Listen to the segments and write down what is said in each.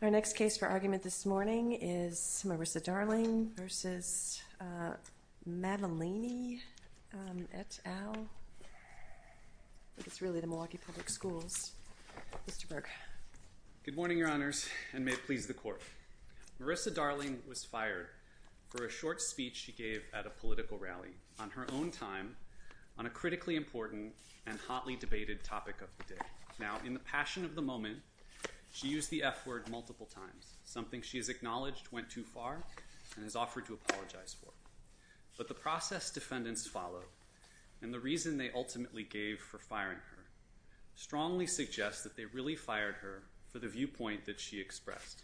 Our next case for argument this morning is Marissa Darlingh v. Adria Maddaleni et al. Marissa Darlingh was fired for a short speech she gave at a political rally on her own time on a critically important and hotly debated topic of the day. Now, in the passion of the moment, she used the F-word multiple times, something she has acknowledged went too far and has offered to apologize for. But the process defendants followed, and the reason they ultimately gave for firing her, strongly suggests that they really fired her for the viewpoint that she expressed.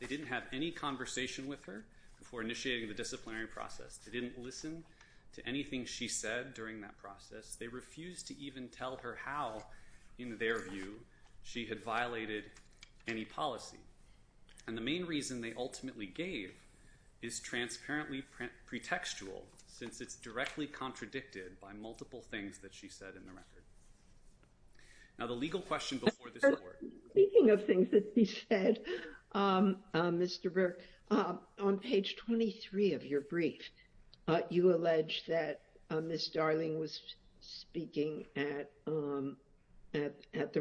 They didn't have any conversation with her before initiating the disciplinary process. They didn't listen to anything she said during that process. They refused to even tell her how, in their view, she had violated any policy. And the main reason they ultimately gave is transparently pretextual, since it's directly contradicted by multiple things that she said in the record. Now, the legal question before this court. Speaking of things that she said, Mr. Burke, on page 23 of your brief, you allege that Miss Darlingh was speaking at the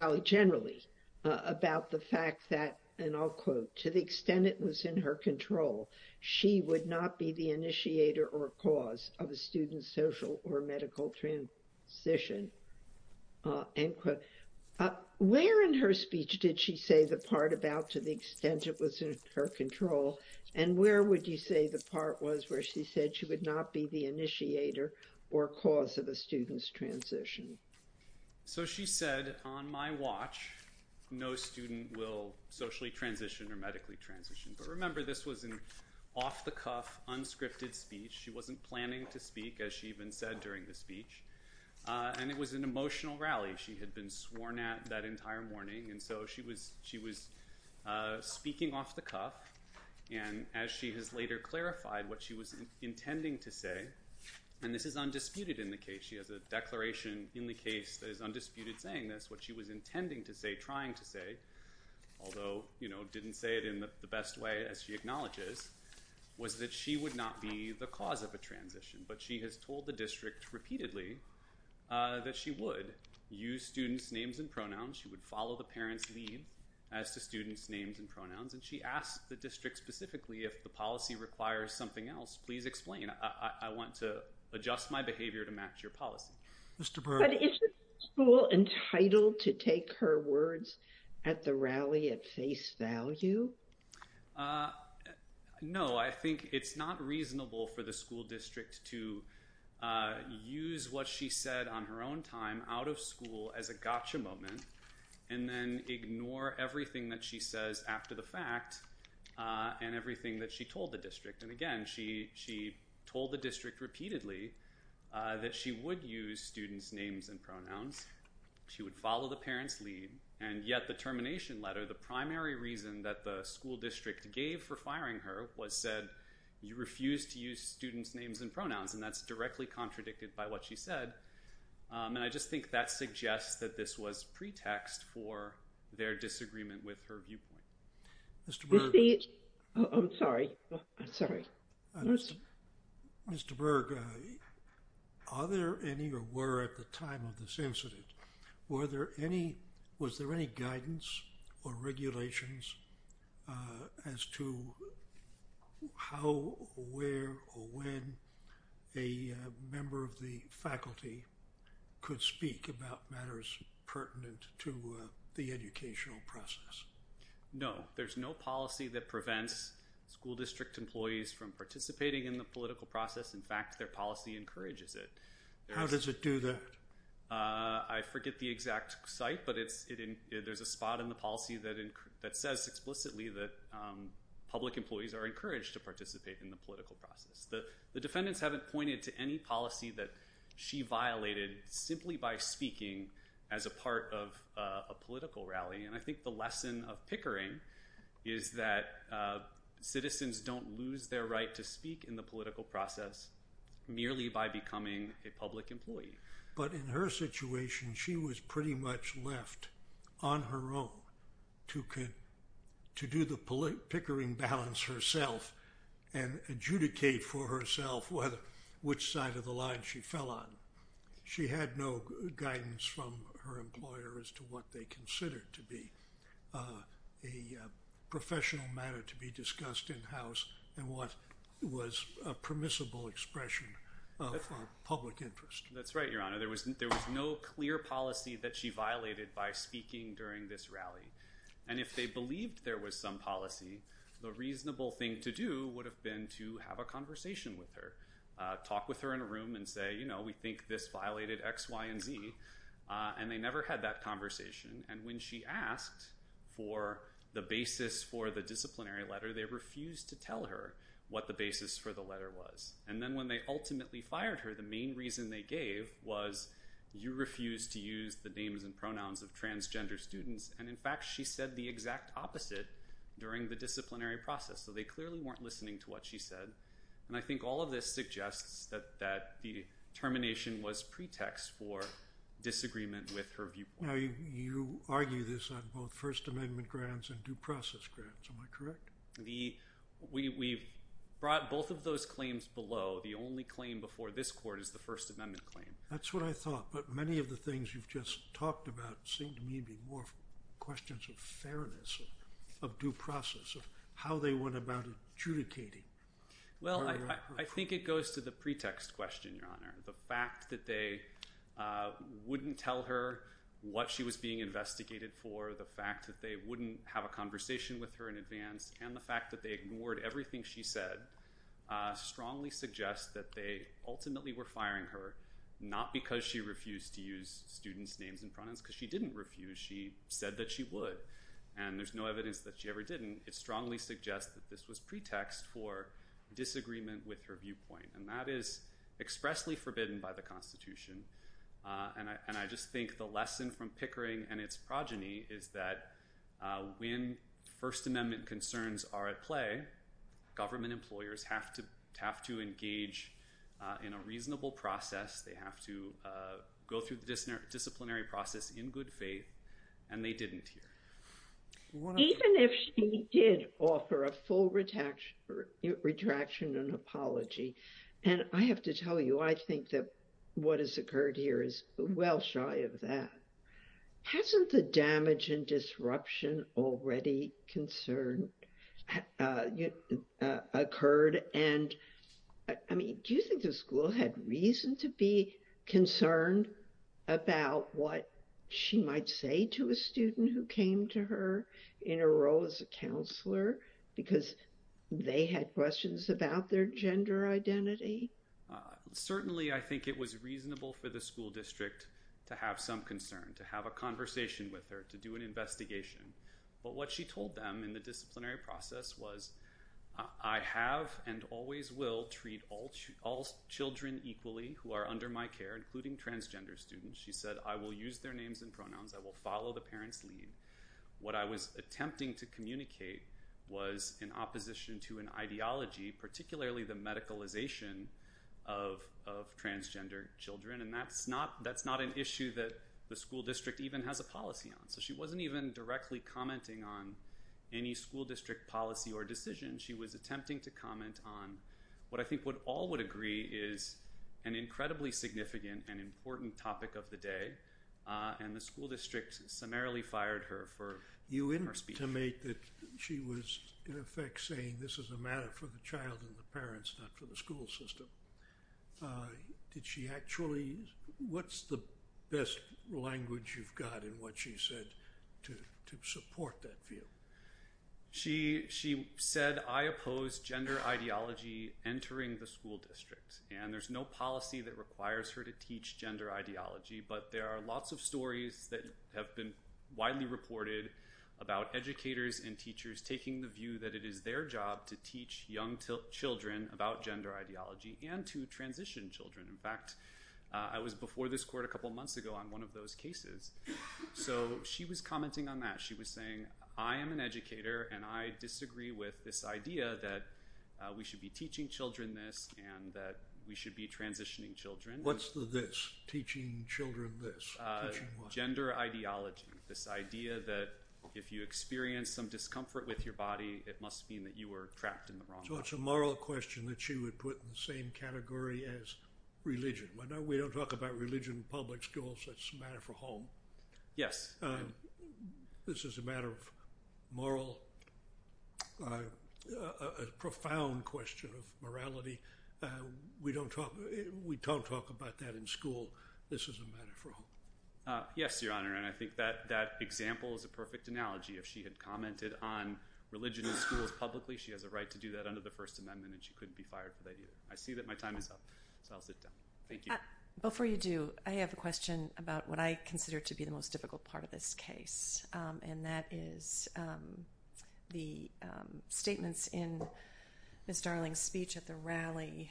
rally generally about the fact that, and I'll quote, to the extent it was in her control, she would not be the initiator or cause of a student's social or medical transition, end quote. Where in her speech did she say the part about to the extent it was in her control, and where would you say the part was where she said she would not be the initiator or cause of a student's transition? So she said, on my watch, no student will socially transition or medically transition. But remember, this was an off-the-cuff, unscripted speech. She wasn't planning to speak, as she even said during the speech. And it was an emotional rally. She had been sworn at that entire morning. And so she was speaking off the cuff. And as she has later clarified what she was intending to say, and this is undisputed in the case. She has a declaration in the case that is undisputed saying this. What she was intending to say, trying to say, although didn't say it in the best way as she acknowledges, was that she would not be the cause of a transition. But she has told the district repeatedly that she would use students' names and pronouns. She would follow the parents' lead as to students' names and pronouns. And she asked the district specifically if the policy requires something else. Please explain. I want to adjust my behavior to match your policy. But is the school entitled to take her words at the rally at face value? No, I think it's not reasonable for the school district to use what she said on her own time out of school as a gotcha moment. And then ignore everything that she says after the fact and everything that she told the district. And again, she told the district repeatedly that she would use students' names and pronouns. She would follow the parents' lead. And yet the termination letter, the primary reason that the school district gave for firing her, was said, you refuse to use students' names and pronouns. And that's directly contradicted by what she said. And I just think that suggests that this was pretext for their disagreement with her viewpoint. Mr. Berg. I'm sorry. I'm sorry. Mr. Berg, are there any or were at the time of this incident, were there any, was there any guidance or regulations as to how, where, or when a member of the faculty could speak about matters pertinent to the educational process? No, there's no policy that prevents school district employees from participating in the political process. In fact, their policy encourages it. How does it do that? I forget the exact site, but there's a spot in the policy that says explicitly that public employees are encouraged to participate in the political process. The defendants haven't pointed to any policy that she violated simply by speaking as a part of a political rally. And I think the lesson of pickering is that citizens don't lose their right to speak in the political process merely by becoming a public employee. But in her situation, she was pretty much left on her own to do the pickering balance herself and adjudicate for herself which side of the line she fell on. She had no guidance from her employer as to what they considered to be a professional matter to be discussed in-house and what was a permissible expression of public interest. That's right, Your Honor. There was no clear policy that she violated by speaking during this rally. And if they believed there was some policy, the reasonable thing to do would have been to have a conversation with her, talk with her in a room and say, you know, we think this violated X, Y, and Z. And they never had that conversation. And when she asked for the basis for the disciplinary letter, they refused to tell her what the basis for the letter was. And then when they ultimately fired her, the main reason they gave was you refused to use the names and pronouns of transgender students. And, in fact, she said the exact opposite during the disciplinary process. So they clearly weren't listening to what she said. And I think all of this suggests that the termination was pretext for disagreement with her viewpoint. Now, you argue this on both First Amendment grants and due process grants. Am I correct? We brought both of those claims below. The only claim before this court is the First Amendment claim. That's what I thought. But many of the things you've just talked about seem to me to be more questions of fairness, of due process, of how they went about adjudicating. Well, I think it goes to the pretext question, Your Honor. The fact that they wouldn't tell her what she was being investigated for, the fact that they wouldn't have a conversation with her in advance, and the fact that they ignored everything she said strongly suggests that they ultimately were firing her, not because she refused to use students' names and pronouns because she didn't refuse. She said that she would. And there's no evidence that she ever didn't. It strongly suggests that this was pretext for disagreement with her viewpoint. And that is expressly forbidden by the Constitution. And I just think the lesson from Pickering and its progeny is that when First Amendment concerns are at play, government employers have to engage in a reasonable process. They have to go through the disciplinary process in good faith. And they didn't here. Even if she did offer a full retraction and apology, and I have to tell you, I think that what has occurred here is well shy of that. Hasn't the damage and disruption already occurred? And, I mean, do you think the school had reason to be concerned about what she might say to a student who came to her in a role as a counselor because they had questions about their gender identity? Certainly, I think it was reasonable for the school district to have some concern, to have a conversation with her, to do an investigation. But what she told them in the disciplinary process was, I have and always will treat all children equally who are under my care, including transgender students. She said, I will use their names and pronouns. I will follow the parents' lead. What I was attempting to communicate was in opposition to an ideology, particularly the medicalization of transgender children. And that's not an issue that the school district even has a policy on. So she wasn't even directly commenting on any school district policy or decision. She was attempting to comment on what I think what all would agree is an incredibly significant and important topic of the day. And the school district summarily fired her for you in her speech. To make that she was, in effect, saying this is a matter for the child and the parents, not for the school system. Did she actually, what's the best language you've got in what she said to support that view? She said, I oppose gender ideology entering the school district. And there's no policy that requires her to teach gender ideology. But there are lots of stories that have been widely reported about educators and teachers taking the view that it is their job to teach young children about gender ideology and to transition children. In fact, I was before this court a couple of months ago on one of those cases. So she was commenting on that. She was saying, I am an educator and I disagree with this idea that we should be teaching children this and that we should be transitioning children. What's the this? Teaching children this? Gender ideology, this idea that if you experience some discomfort with your body, it must mean that you were trapped in the wrong. So it's a moral question that she would put in the same category as religion. We don't talk about religion in public schools. It's a matter for home. Yes. This is a matter of moral, a profound question of morality. We don't talk about that in school. This is a matter for home. Yes, Your Honor. And I think that that example is a perfect analogy. If she had commented on religion in schools publicly, she has a right to do that under the First Amendment. And she couldn't be fired for that either. I see that my time is up. So I'll sit down. Thank you. Before you do, I have a question about what I consider to be the most difficult part of this case. And that is the statements in Ms. Darling's speech at the rally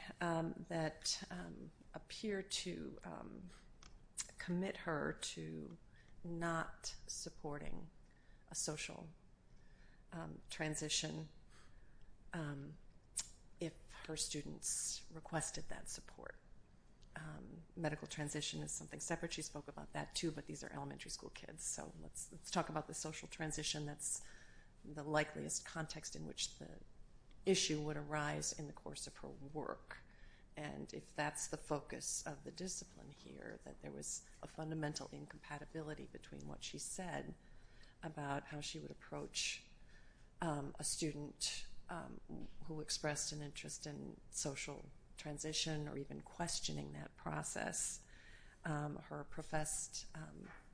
that appear to commit her to not supporting a social transition if her students requested that support. Medical transition is something separate. She spoke about that too, but these are elementary school kids. So let's talk about the social transition. That's the likeliest context in which the issue would arise in the course of her work. And if that's the focus of the discipline here, that there was a fundamental incompatibility between what she said about how she would approach a student who expressed an interest in social transition or even questioning that process. Her professed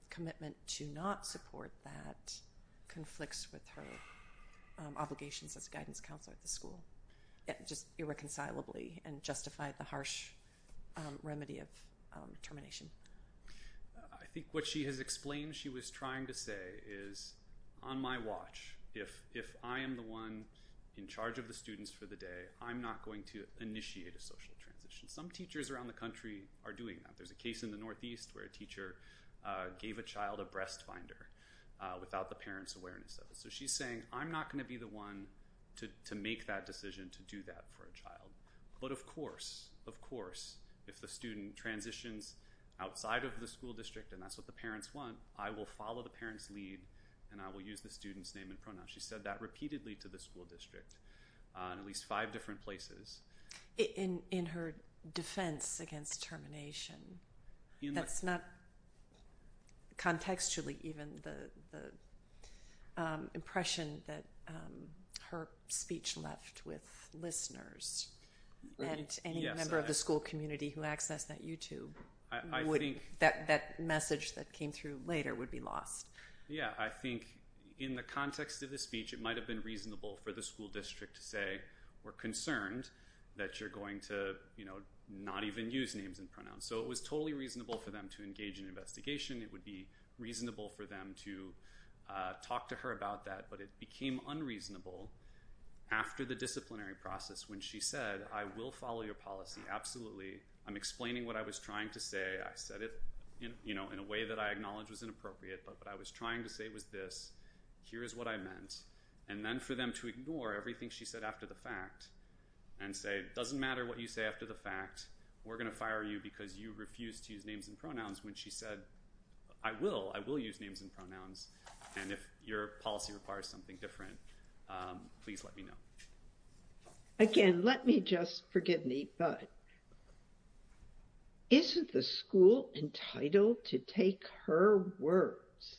commitment to not support that conflicts with her obligations as a guidance counselor at the school, just irreconcilably, and justified the harsh remedy of termination. I think what she has explained she was trying to say is, on my watch, if I am the one in charge of the students for the day, I'm not going to initiate a social transition. Some teachers around the country are doing that. There's a case in the Northeast where a teacher gave a child a breast finder without the parent's awareness of it. So she's saying, I'm not going to be the one to make that decision to do that for a child. But of course, of course, if the student transitions outside of the school district and that's what the parents want, I will follow the parent's lead and I will use the student's name and pronoun. She said that repeatedly to the school district in at least five different places. In her defense against termination, that's not contextually even the impression that her speech left with listeners. And any member of the school community who accessed that YouTube, that message that came through later would be lost. Yeah, I think in the context of the speech, it might have been reasonable for the school district to say, we're concerned that you're going to not even use names and pronouns. So it was totally reasonable for them to engage in an investigation. It would be reasonable for them to talk to her about that. But it became unreasonable after the disciplinary process when she said, I will follow your policy, absolutely. I'm explaining what I was trying to say. I said it in a way that I acknowledge was inappropriate. But what I was trying to say was this. Here is what I meant. And then for them to ignore everything she said after the fact and say, it doesn't matter what you say after the fact. We're going to fire you because you refuse to use names and pronouns. When she said, I will. I will use names and pronouns. And if your policy requires something different, please let me know. Again, let me just, forgive me, but isn't the school entitled to take her words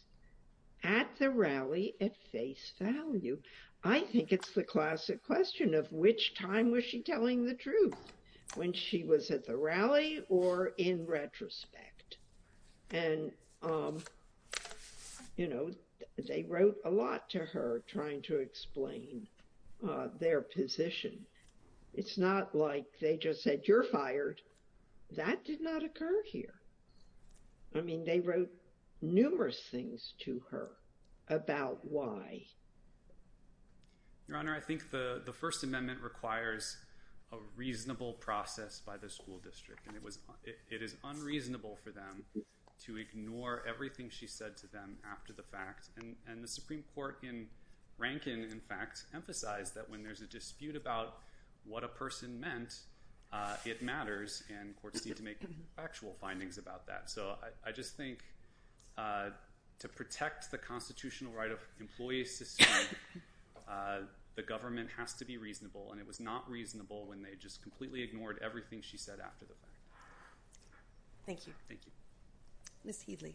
at the rally at face value? I think it's the classic question of which time was she telling the truth, when she was at the rally or in retrospect? And, you know, they wrote a lot to her trying to explain their position. It's not like they just said, you're fired. That did not occur here. I mean, they wrote numerous things to her about why. Your Honor, I think the First Amendment requires a reasonable process by the school district. It is unreasonable for them to ignore everything she said to them after the fact. And the Supreme Court in Rankin, in fact, emphasized that when there's a dispute about what a person meant, it matters. And courts need to make factual findings about that. So I just think to protect the constitutional right of employees, the government has to be reasonable. And it was not reasonable when they just completely ignored everything she said after the fact. Thank you. Thank you. Ms. Headley.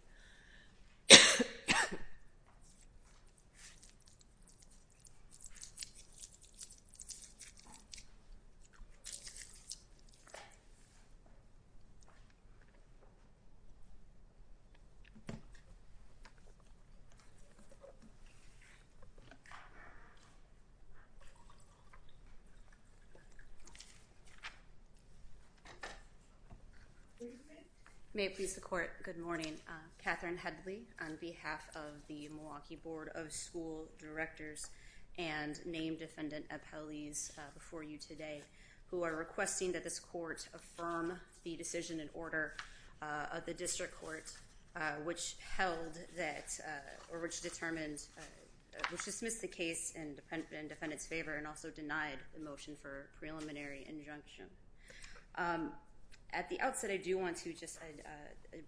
May it please the court. Good morning. Catherine Headley on behalf of the Milwaukee Board of School Directors and named defendant Appellees before you today, who are requesting that this court affirm the decision in order of the district court, which held that or which determined, which dismissed the case in defendant's favor and also denied the motion for preliminary injunction. At the outset, I do want to just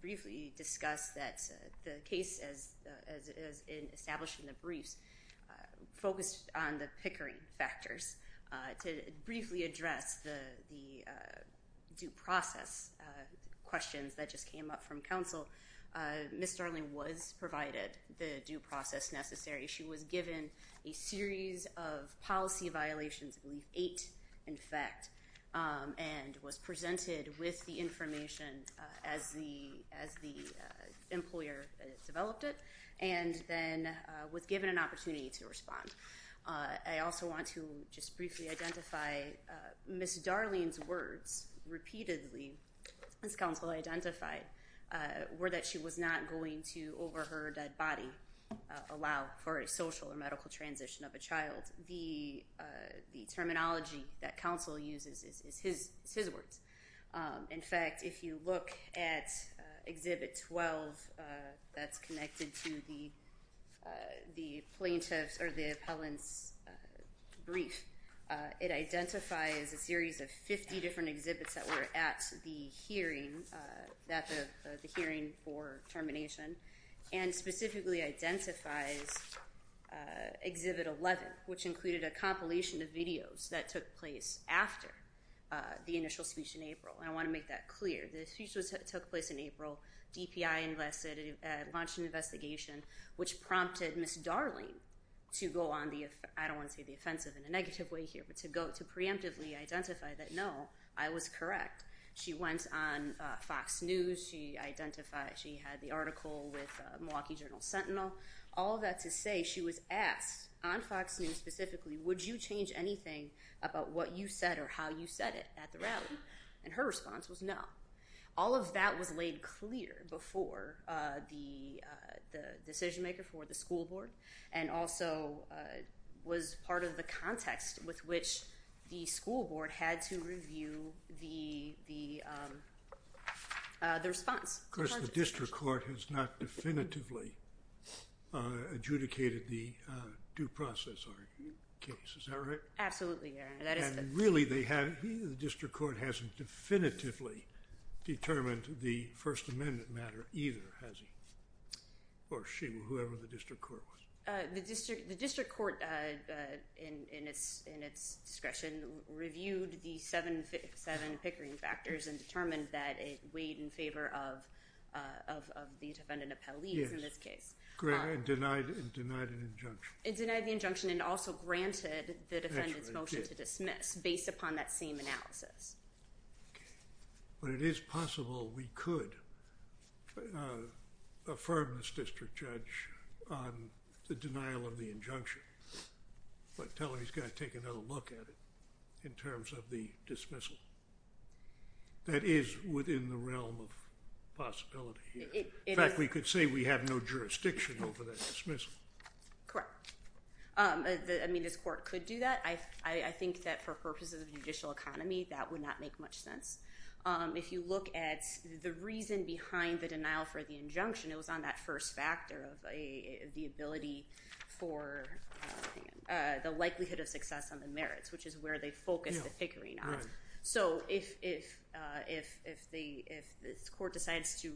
briefly discuss that the case as in establishing the briefs focused on the pickering factors. To briefly address the due process questions that just came up from counsel, Ms. Darling was provided the due process necessary. She was given a series of policy violations, eight, in fact, and was presented with the information as the as the employer developed it and then was given an opportunity to respond. I also want to just briefly identify Ms. Darling's words repeatedly as counsel identified were that she was not going to, over her dead body, allow for a social or medical transition of a child. The terminology that counsel uses is his words. In fact, if you look at Exhibit 12, that's connected to the plaintiff's or the appellant's brief. It identifies a series of 50 different exhibits that were at the hearing that the hearing for termination and specifically identifies Exhibit 11, which included a compilation of videos that took place after the initial speech in April. I want to make that clear. The speech took place in April. DPI launched an investigation, which prompted Ms. Darling to go on the, I don't want to say the offensive in a negative way here, but to go to preemptively identify that, no, I was correct. She went on Fox News. She identified, she had the article with Milwaukee Journal Sentinel. All of that to say she was asked on Fox News specifically, would you change anything about what you said or how you said it at the rally? And her response was no. All of that was laid clear before the decision maker for the school board and also was part of the context with which the school board had to review the response. Of course, the district court has not definitively adjudicated the due process case. Is that right? Absolutely. Really, the district court hasn't definitively determined the First Amendment matter either, has it? Or she, whoever the district court was. The district court, in its discretion, reviewed the seven pickering factors and determined that it weighed in favor of the defendant appellee in this case. Denied an injunction. It denied the injunction and also granted the defendant's motion to dismiss based upon that same analysis. But it is possible we could affirm this district judge on the denial of the injunction. But tell her he's got to take another look at it in terms of the dismissal. That is within the realm of possibility here. In fact, we could say we have no jurisdiction over that dismissal. Correct. I mean, this court could do that. I think that for purposes of judicial economy, that would not make much sense. If you look at the reason behind the denial for the injunction, it was on that first factor of the ability for the likelihood of success on the merits, which is where they focused the pickering on. So if this court decides to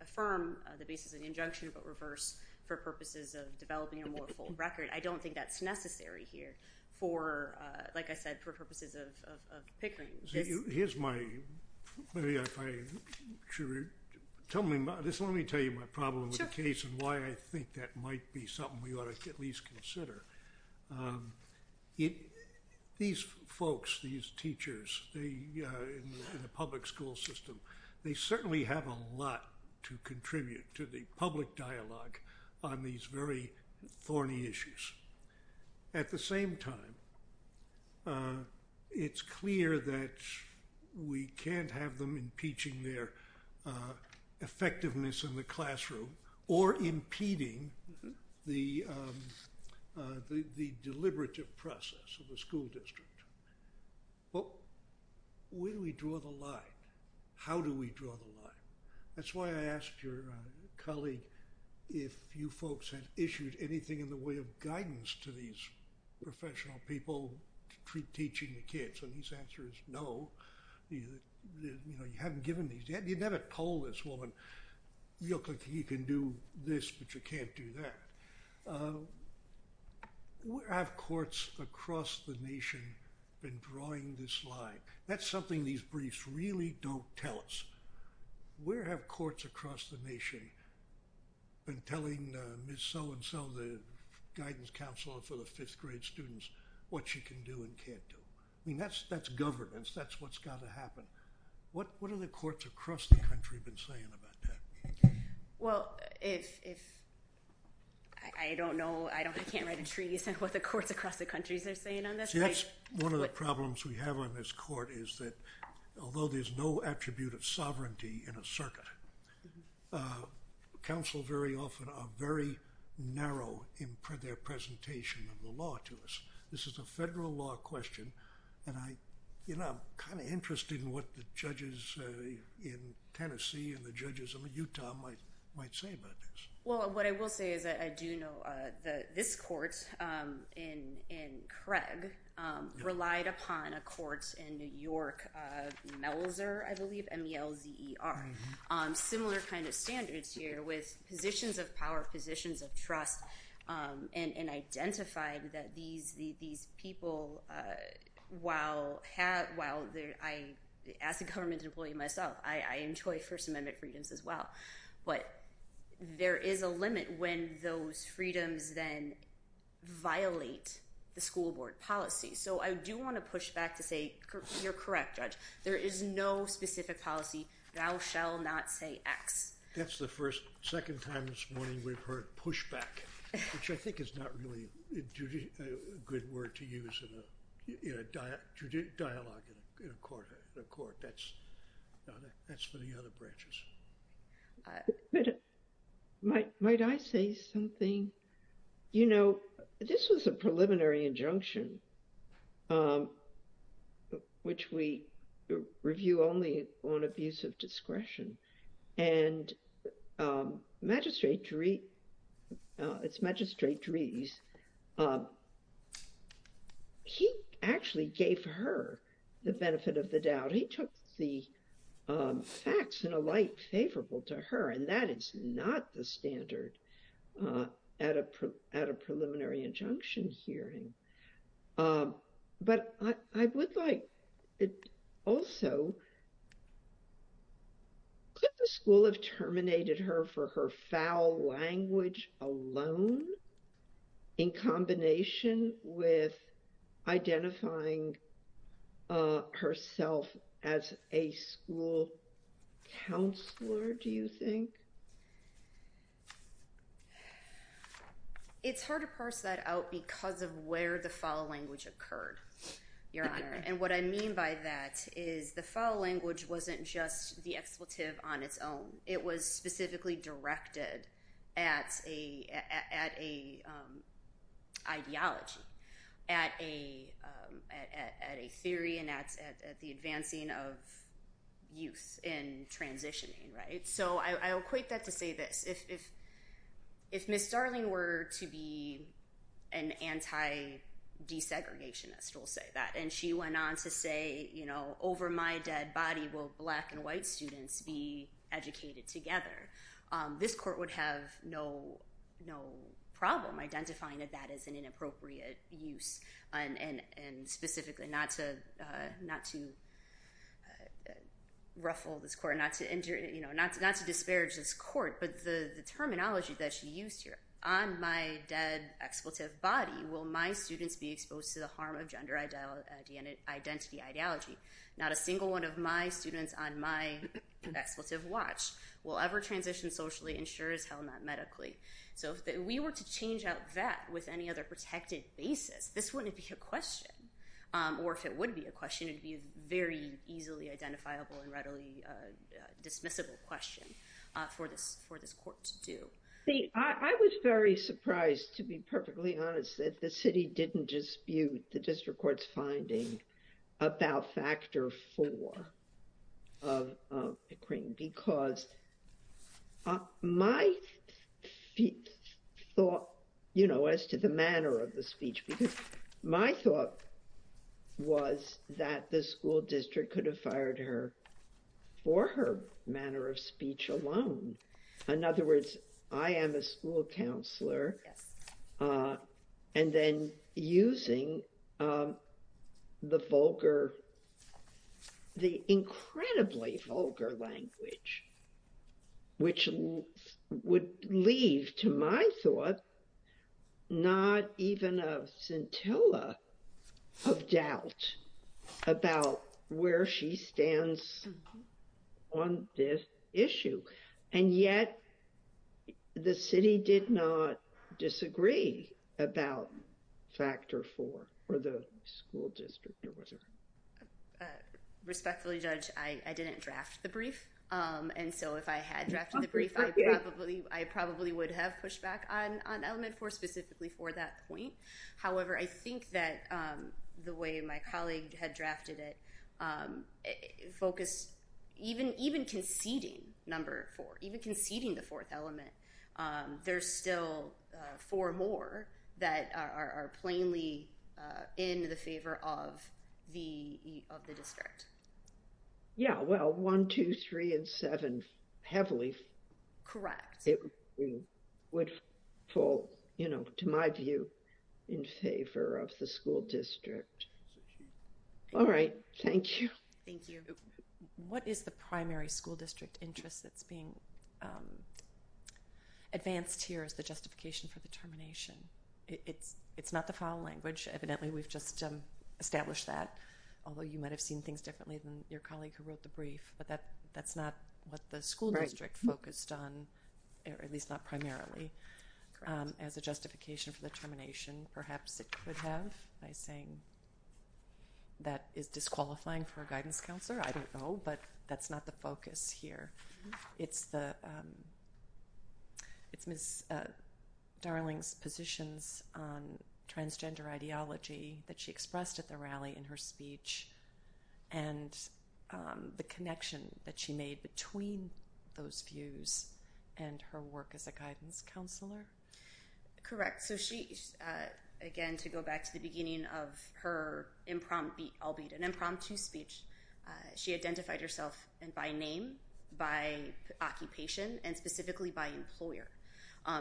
affirm the basis of the injunction but reverse for purposes of developing a more full record, I don't think that's necessary here for, like I said, for purposes of pickering. Here's my – let me tell you my problem with the case and why I think that might be something we ought to at least consider. These folks, these teachers in the public school system, they certainly have a lot to contribute to the public dialogue on these very thorny issues. At the same time, it's clear that we can't have them impeaching their effectiveness in the classroom or impeding the deliberative process of the school district. Well, where do we draw the line? How do we draw the line? That's why I asked your colleague if you folks had issued anything in the way of guidance to these professional people to teaching the kids. And his answer is no. You know, you haven't given these yet. You'd never told this woman, you can do this, but you can't do that. Have courts across the nation been drawing this line? That's something these briefs really don't tell us. Where have courts across the nation been telling Ms. So-and-so, the guidance counselor for the fifth grade students, what she can do and can't do? I mean, that's governance. That's what's got to happen. What have the courts across the country been saying about that? Well, if – I don't know. I can't write a treaty saying what the courts across the country are saying on this. See, that's one of the problems we have on this court is that although there's no attribute of sovereignty in a circuit, counsel very often are very narrow in their presentation of the law to us. This is a federal law question, and I'm kind of interested in what the judges in Tennessee and the judges in Utah might say about this. Well, what I will say is that I do know that this court in Craig relied upon a court in New York, Melzer, I believe, M-E-L-Z-E-R, similar kind of standards here with positions of power, positions of trust, and identified that these people, while I, as a government employee myself, I enjoy First Amendment freedoms as well, but there is a limit when those freedoms then violate the school board policy. So I do want to push back to say you're correct, Judge. There is no specific policy. Thou shall not say X. That's the first, second time this morning we've heard pushback, which I think is not really a good word to use in a dialogue in a court. That's for the other branches. But might I say something? You know, this was a preliminary injunction, which we review only on abuse of discretion. And Magistrate Dries, he actually gave her the benefit of the doubt. He took the facts in a light favorable to her, and that is not the standard at a preliminary injunction hearing. But I would like also, could the school have terminated her for her foul language alone, in combination with identifying herself as a school counselor, do you think? It's hard to parse that out because of where the foul language occurred, Your Honor. And what I mean by that is the foul language wasn't just the expletive on its own. It was specifically directed at an ideology, at a theory, and at the advancing of youth in transitioning, right? So I equate that to say this. If Ms. Starling were to be an anti-desegregationist, we'll say that, and she went on to say, you know, over my dead body will black and white students be educated together, this court would have no problem identifying that that is an inappropriate use, and specifically not to ruffle this court, not to disparage this court, but the terminology that she used here, on my dead expletive body, will my students be exposed to the harm of gender identity ideology? Not a single one of my students on my expletive watch will ever transition socially, insured as hell, not medically. So if we were to change out that with any other protected basis, this wouldn't be a question. Or if it would be a question, it would be a very easily identifiable and readily dismissible question for this court to do. See, I was very surprised, to be perfectly honest, that the city didn't dispute the district court's finding about factor four of McQueen. Because my thought, you know, as to the manner of the speech, because my thought was that the school district could have fired her for her manner of speech alone. In other words, I am a school counselor, and then using the vulgar, the incredibly vulgar language, which would leave to my thought, not even a scintilla of doubt about where she stands on this issue. And yet, the city did not disagree about factor four, or the school district, or whatever. Respectfully, Judge, I didn't draft the brief. And so if I had drafted the brief, I probably would have pushed back on element four specifically for that point. However, I think that the way my colleague had drafted it focused, even conceding number four, even conceding the fourth element, there's still four more that are plainly in the favor of the district. Yeah, well, one, two, three, and seven, heavily. Correct. It would fall, you know, to my view, in favor of the school district. All right. Thank you. Thank you. What is the primary school district interest that's being advanced here as the justification for the termination? It's not the foul language. Evidently, we've just established that, although you might have seen things differently than your colleague who wrote the brief. But that's not what the school district focused on, or at least not primarily, as a justification for the termination. Perhaps it could have by saying that is disqualifying for a guidance counselor. I don't know, but that's not the focus here. It's Ms. Darling's positions on transgender ideology that she expressed at the rally in her speech and the connection that she made between those views and her work as a guidance counselor. Correct. So she, again, to go back to the beginning of her impromptu speech, she identified herself by name, by occupation, and specifically by employer.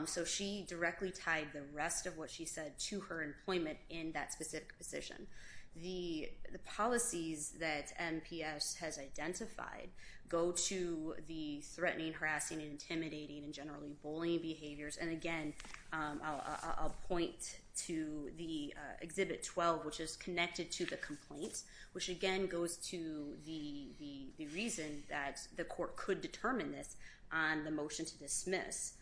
So she directly tied the rest of what she said to her employment in that specific position. The policies that MPS has identified go to the threatening, harassing, intimidating, and generally bullying behaviors. And again, I'll point to the Exhibit 12, which is connected to the complaint, which again goes to the reason that the court could determine this on the motion to dismiss,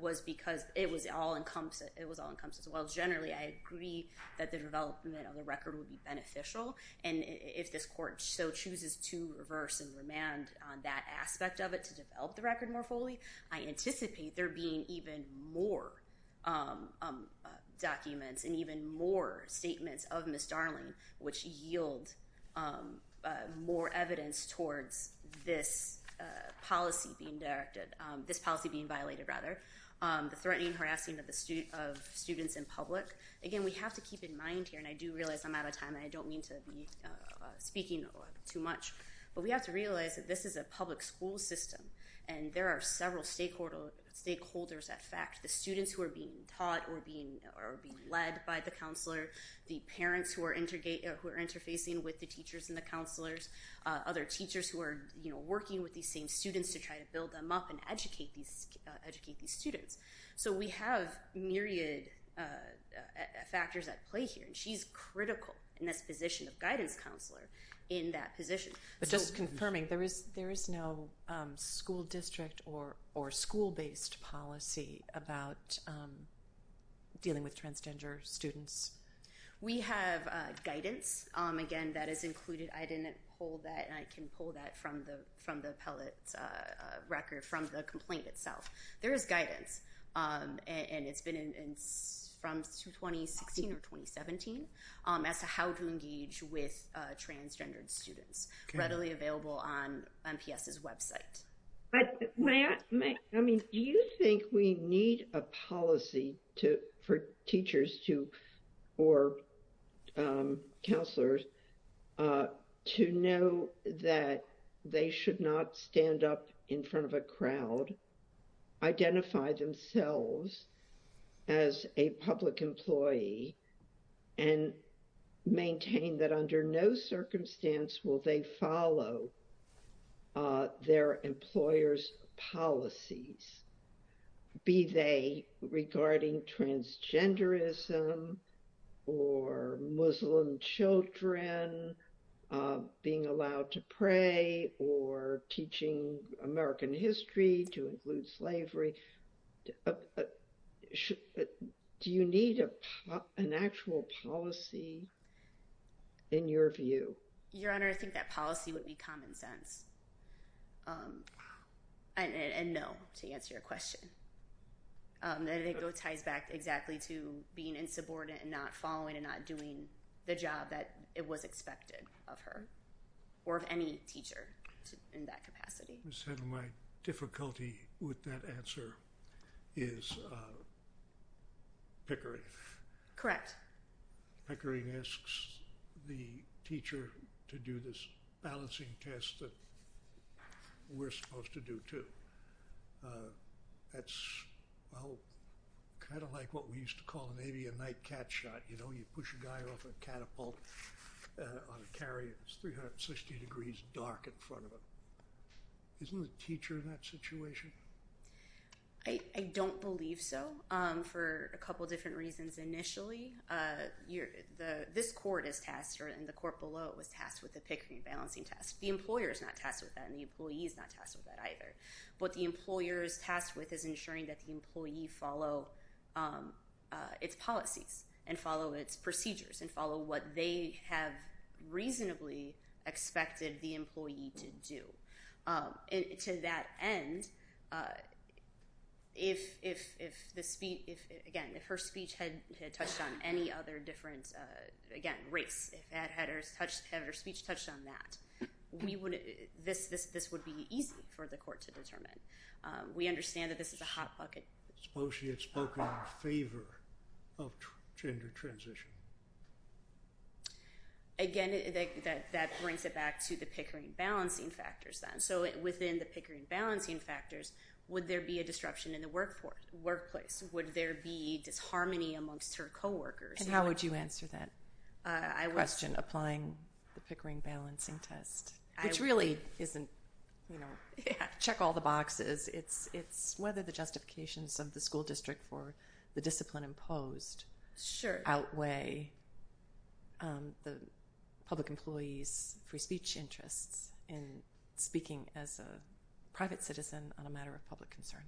was because it was all-encompassing. So while generally I agree that the development of the record would be beneficial, and if this court so chooses to reverse and remand on that aspect of it to develop the record more fully, I anticipate there being even more documents and even more statements of Ms. Darling which yield more evidence towards this policy being directed, this policy being violated rather. The threatening, harassing of students in public. Again, we have to keep in mind here, and I do realize I'm out of time and I don't mean to be speaking too much, but we have to realize that this is a public school system, and there are several stakeholders at fact, the students who are being taught or being led by the counselor, the parents who are interfacing with the teachers and the counselors, other teachers who are working with these same students to try to build them up and educate these students. So we have myriad factors at play here, and she's critical in this position of guidance counselor in that position. But just confirming, there is no school district or school-based policy about dealing with transgender students? We have guidance. Again, that is included. I didn't pull that, and I can pull that from the appellate record from the complaint itself. There is guidance, and it's been from 2016 or 2017 as to how to engage with transgendered students, readily available on MPS's website. Do you think we need a policy for teachers or counselors to know that they should not stand up in front of a crowd, identify themselves as a public employee, and maintain that under no circumstance will they follow their employer's policies, be they regarding transgenderism or Muslim children being allowed to pray or teaching American history to include slavery? Do you need an actual policy in your view? Your Honor, I think that policy would be common sense, and no, to answer your question. And it ties back exactly to being insubordinate and not following and not doing the job that was expected of her or of any teacher in that capacity. My difficulty with that answer is Pickering. Correct. Pickering asks the teacher to do this balancing test that we're supposed to do, too. That's kind of like what we used to call maybe a night cat shot. You know, you push a guy off a catapult on a carrier, and it's 360 degrees dark in front of him. Isn't the teacher in that situation? I don't believe so for a couple different reasons. Initially, this court is tasked, and the court below it was tasked with the Pickering balancing test. The employer is not tasked with that, and the employee is not tasked with that either. What the employer is tasked with is ensuring that the employee follow its policies and follow its procedures and follow what they have reasonably expected the employee to do. To that end, again, if her speech had touched on any other different, again, race, had her speech touched on that, this would be easy for the court to determine. We understand that this is a hot bucket. Suppose she had spoken in favor of gender transition. Again, that brings it back to the Pickering balancing factors then. So within the Pickering balancing factors, would there be a disruption in the workplace? Would there be disharmony amongst her coworkers? And how would you answer that question? Applying the Pickering balancing test, which really isn't, you know, check all the boxes. It's whether the justifications of the school district for the discipline imposed outweigh the public employee's free speech interests in speaking as a private citizen on a matter of public concern.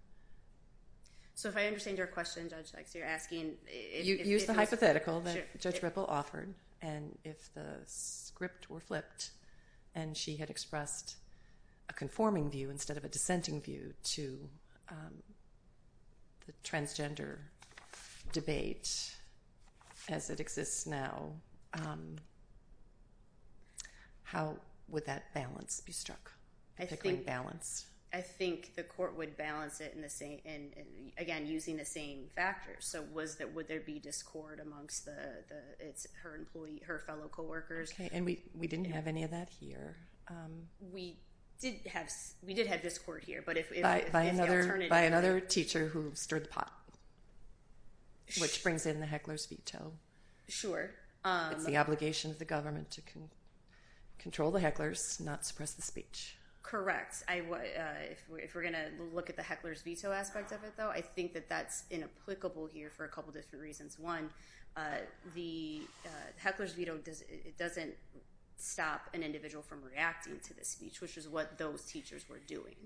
So if I understand your question, Judge Lex, you're asking if it's… Well, that Judge Ripple offered, and if the script were flipped and she had expressed a conforming view instead of a dissenting view to the transgender debate as it exists now, how would that balance be struck, the Pickering balance? I think the court would balance it, again, using the same factors. So would there be discord amongst her fellow coworkers? And we didn't have any of that here. We did have discord here, but if the alternative… By another teacher who stirred the pot, which brings in the heckler's veto. Sure. It's the obligation of the government to control the hecklers, not suppress the speech. Correct. If we're going to look at the heckler's veto aspect of it, though, I think that that's inapplicable here for a couple different reasons. One, the heckler's veto doesn't stop an individual from reacting to the speech, which is what those teachers were doing.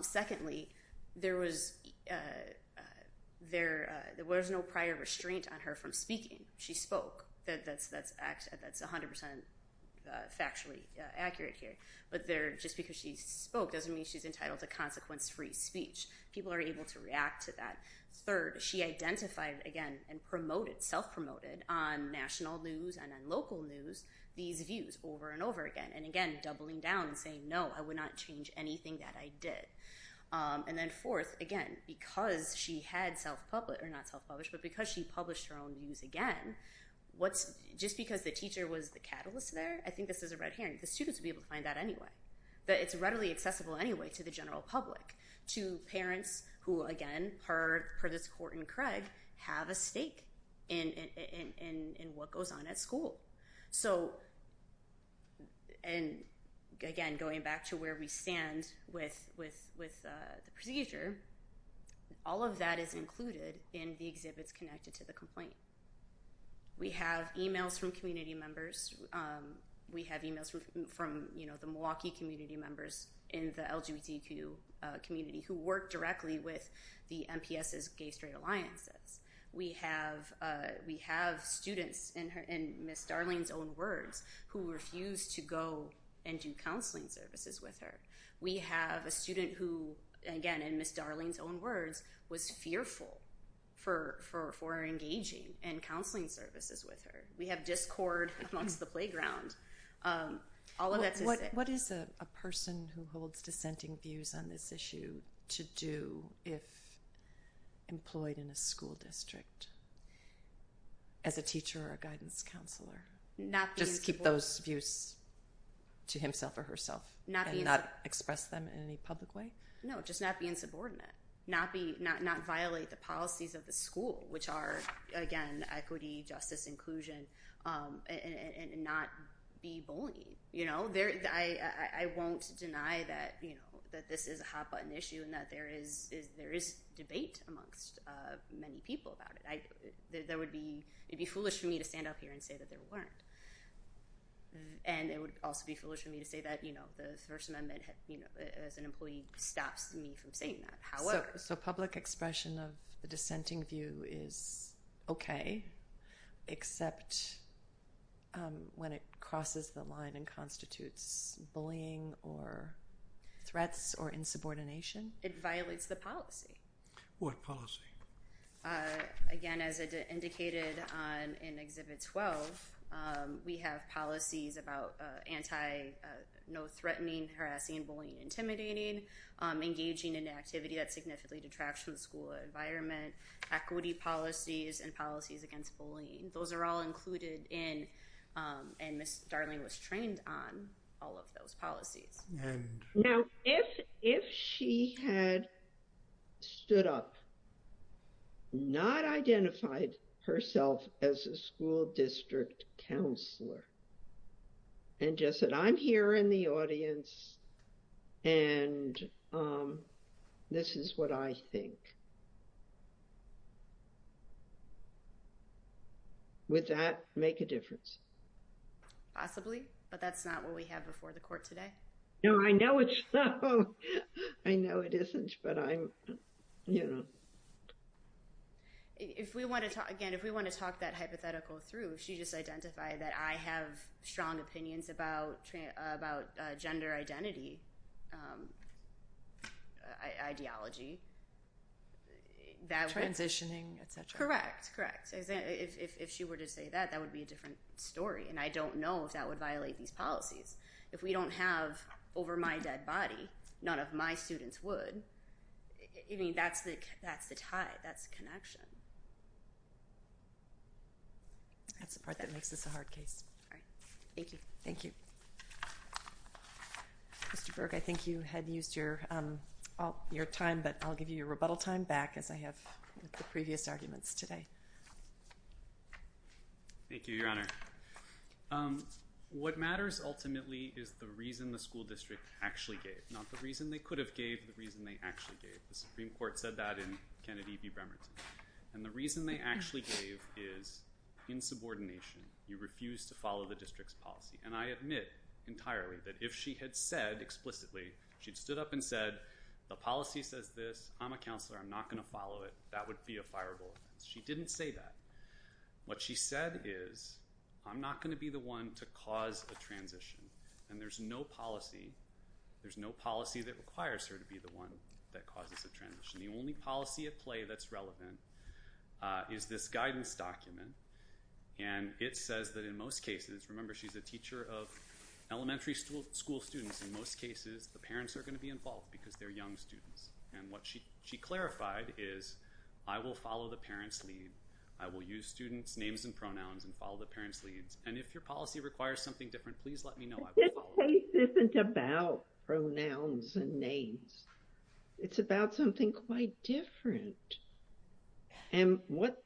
Secondly, there was no prior restraint on her from speaking. She spoke. That's 100% factually accurate here. But just because she spoke doesn't mean she's entitled to consequence-free speech. People are able to react to that. Third, she identified, again, and promoted, self-promoted on national news and on local news these views over and over again, and, again, doubling down and saying, no, I would not change anything that I did. And then fourth, again, because she had self-published, or not self-published, but because she published her own views again, just because the teacher was the catalyst there, I think this is a red herring. The students would be able to find that anyway. But it's readily accessible anyway to the general public, to parents who, again, per this court in Craig, have a stake in what goes on at school. So, and, again, going back to where we stand with the procedure, all of that is included in the exhibits connected to the complaint. We have emails from community members. We have emails from the Milwaukee community members in the LGBTQ community who work directly with the MPS's Gay-Straight Alliances. We have students, in Ms. Darling's own words, who refused to go and do counseling services with her. We have a student who, again, in Ms. Darling's own words, was fearful for engaging in counseling services with her. We have discord amongst the playground. What is a person who holds dissenting views on this issue to do if employed in a school district as a teacher or a guidance counselor? Just keep those views to himself or herself and not express them in any public way? No, just not be insubordinate, not violate the policies of the school, which are, again, equity, justice, inclusion, and not be bullying. I won't deny that this is a hot-button issue and that there is debate amongst many people about it. It would be foolish for me to stand up here and say that there weren't. And it would also be foolish for me to say that the First Amendment, as an employee, stops me from saying that. So public expression of a dissenting view is okay, except when it crosses the line and constitutes bullying or threats or insubordination? It violates the policy. What policy? Again, as indicated in Exhibit 12, we have policies about anti-no-threatening, harassing, bullying, intimidating, engaging in activity that significantly detracts from the school environment, equity policies, and policies against bullying. Those are all included in, and Ms. Darling was trained on, all of those policies. Now, if she had stood up, not identified herself as a school district counselor, and just said, I'm here in the audience, and this is what I think, would that make a difference? Possibly, but that's not what we have before the court today. No, I know it's not. I know it isn't, but I'm, you know. If we want to talk, again, if we want to talk that hypothetical through, she just identified that I have strong opinions about gender identity, ideology. Transitioning, etc. Correct, correct. If she were to say that, that would be a different story, and I don't know if that would violate these policies. If we don't have, over my dead body, none of my students would, I mean, that's the tie, that's the connection. That's the part that makes this a hard case. All right. Thank you. Thank you. Mr. Berg, I think you had used your time, but I'll give you your rebuttal time back, as I have with the previous arguments today. Thank you, Your Honor. What matters, ultimately, is the reason the school district actually gave, not the reason they could have gave, the reason they actually gave. The Supreme Court said that in Kennedy v. Bremerton, and the reason they actually gave is insubordination. You refuse to follow the district's policy, and I admit entirely that if she had said explicitly, she'd stood up and said, the policy says this, I'm a counselor, I'm not going to follow it, that would be a fireball. She didn't say that. What she said is, I'm not going to be the one to cause a transition, and there's no policy, there's no policy that requires her to be the one that causes a transition. The only policy at play that's relevant is this guidance document, and it says that in most cases, remember, she's a teacher of elementary school students, in most cases, the parents are going to be involved because they're young students. And what she clarified is, I will follow the parents' lead. I will use students' names and pronouns and follow the parents' leads, and if your policy requires something different, please let me know. This case isn't about pronouns and names. It's about something quite different. And what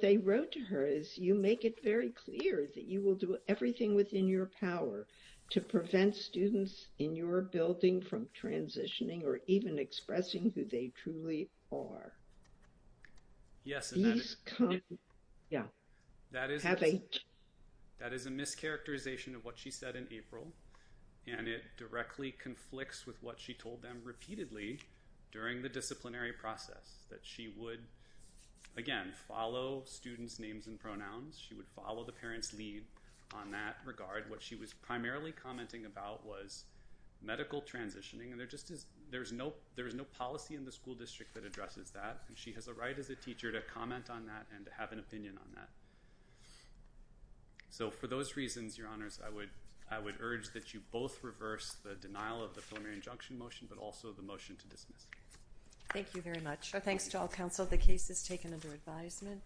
they wrote to her is, you make it very clear that you will do everything within your power to prevent students in your building from transitioning or even expressing who they truly are. That is a mischaracterization of what she said in April, and it directly conflicts with what she told them repeatedly during the disciplinary process, that she would, again, follow students' names and pronouns. She would follow the parents' lead on that regard. What she was primarily commenting about was medical transitioning, and there's no policy in the school district that addresses that. She has a right as a teacher to comment on that and to have an opinion on that. So for those reasons, Your Honors, I would urge that you both reverse the denial of the preliminary injunction motion but also the motion to dismiss. Thank you very much. Thanks to all counsel. The case is taken under advisement.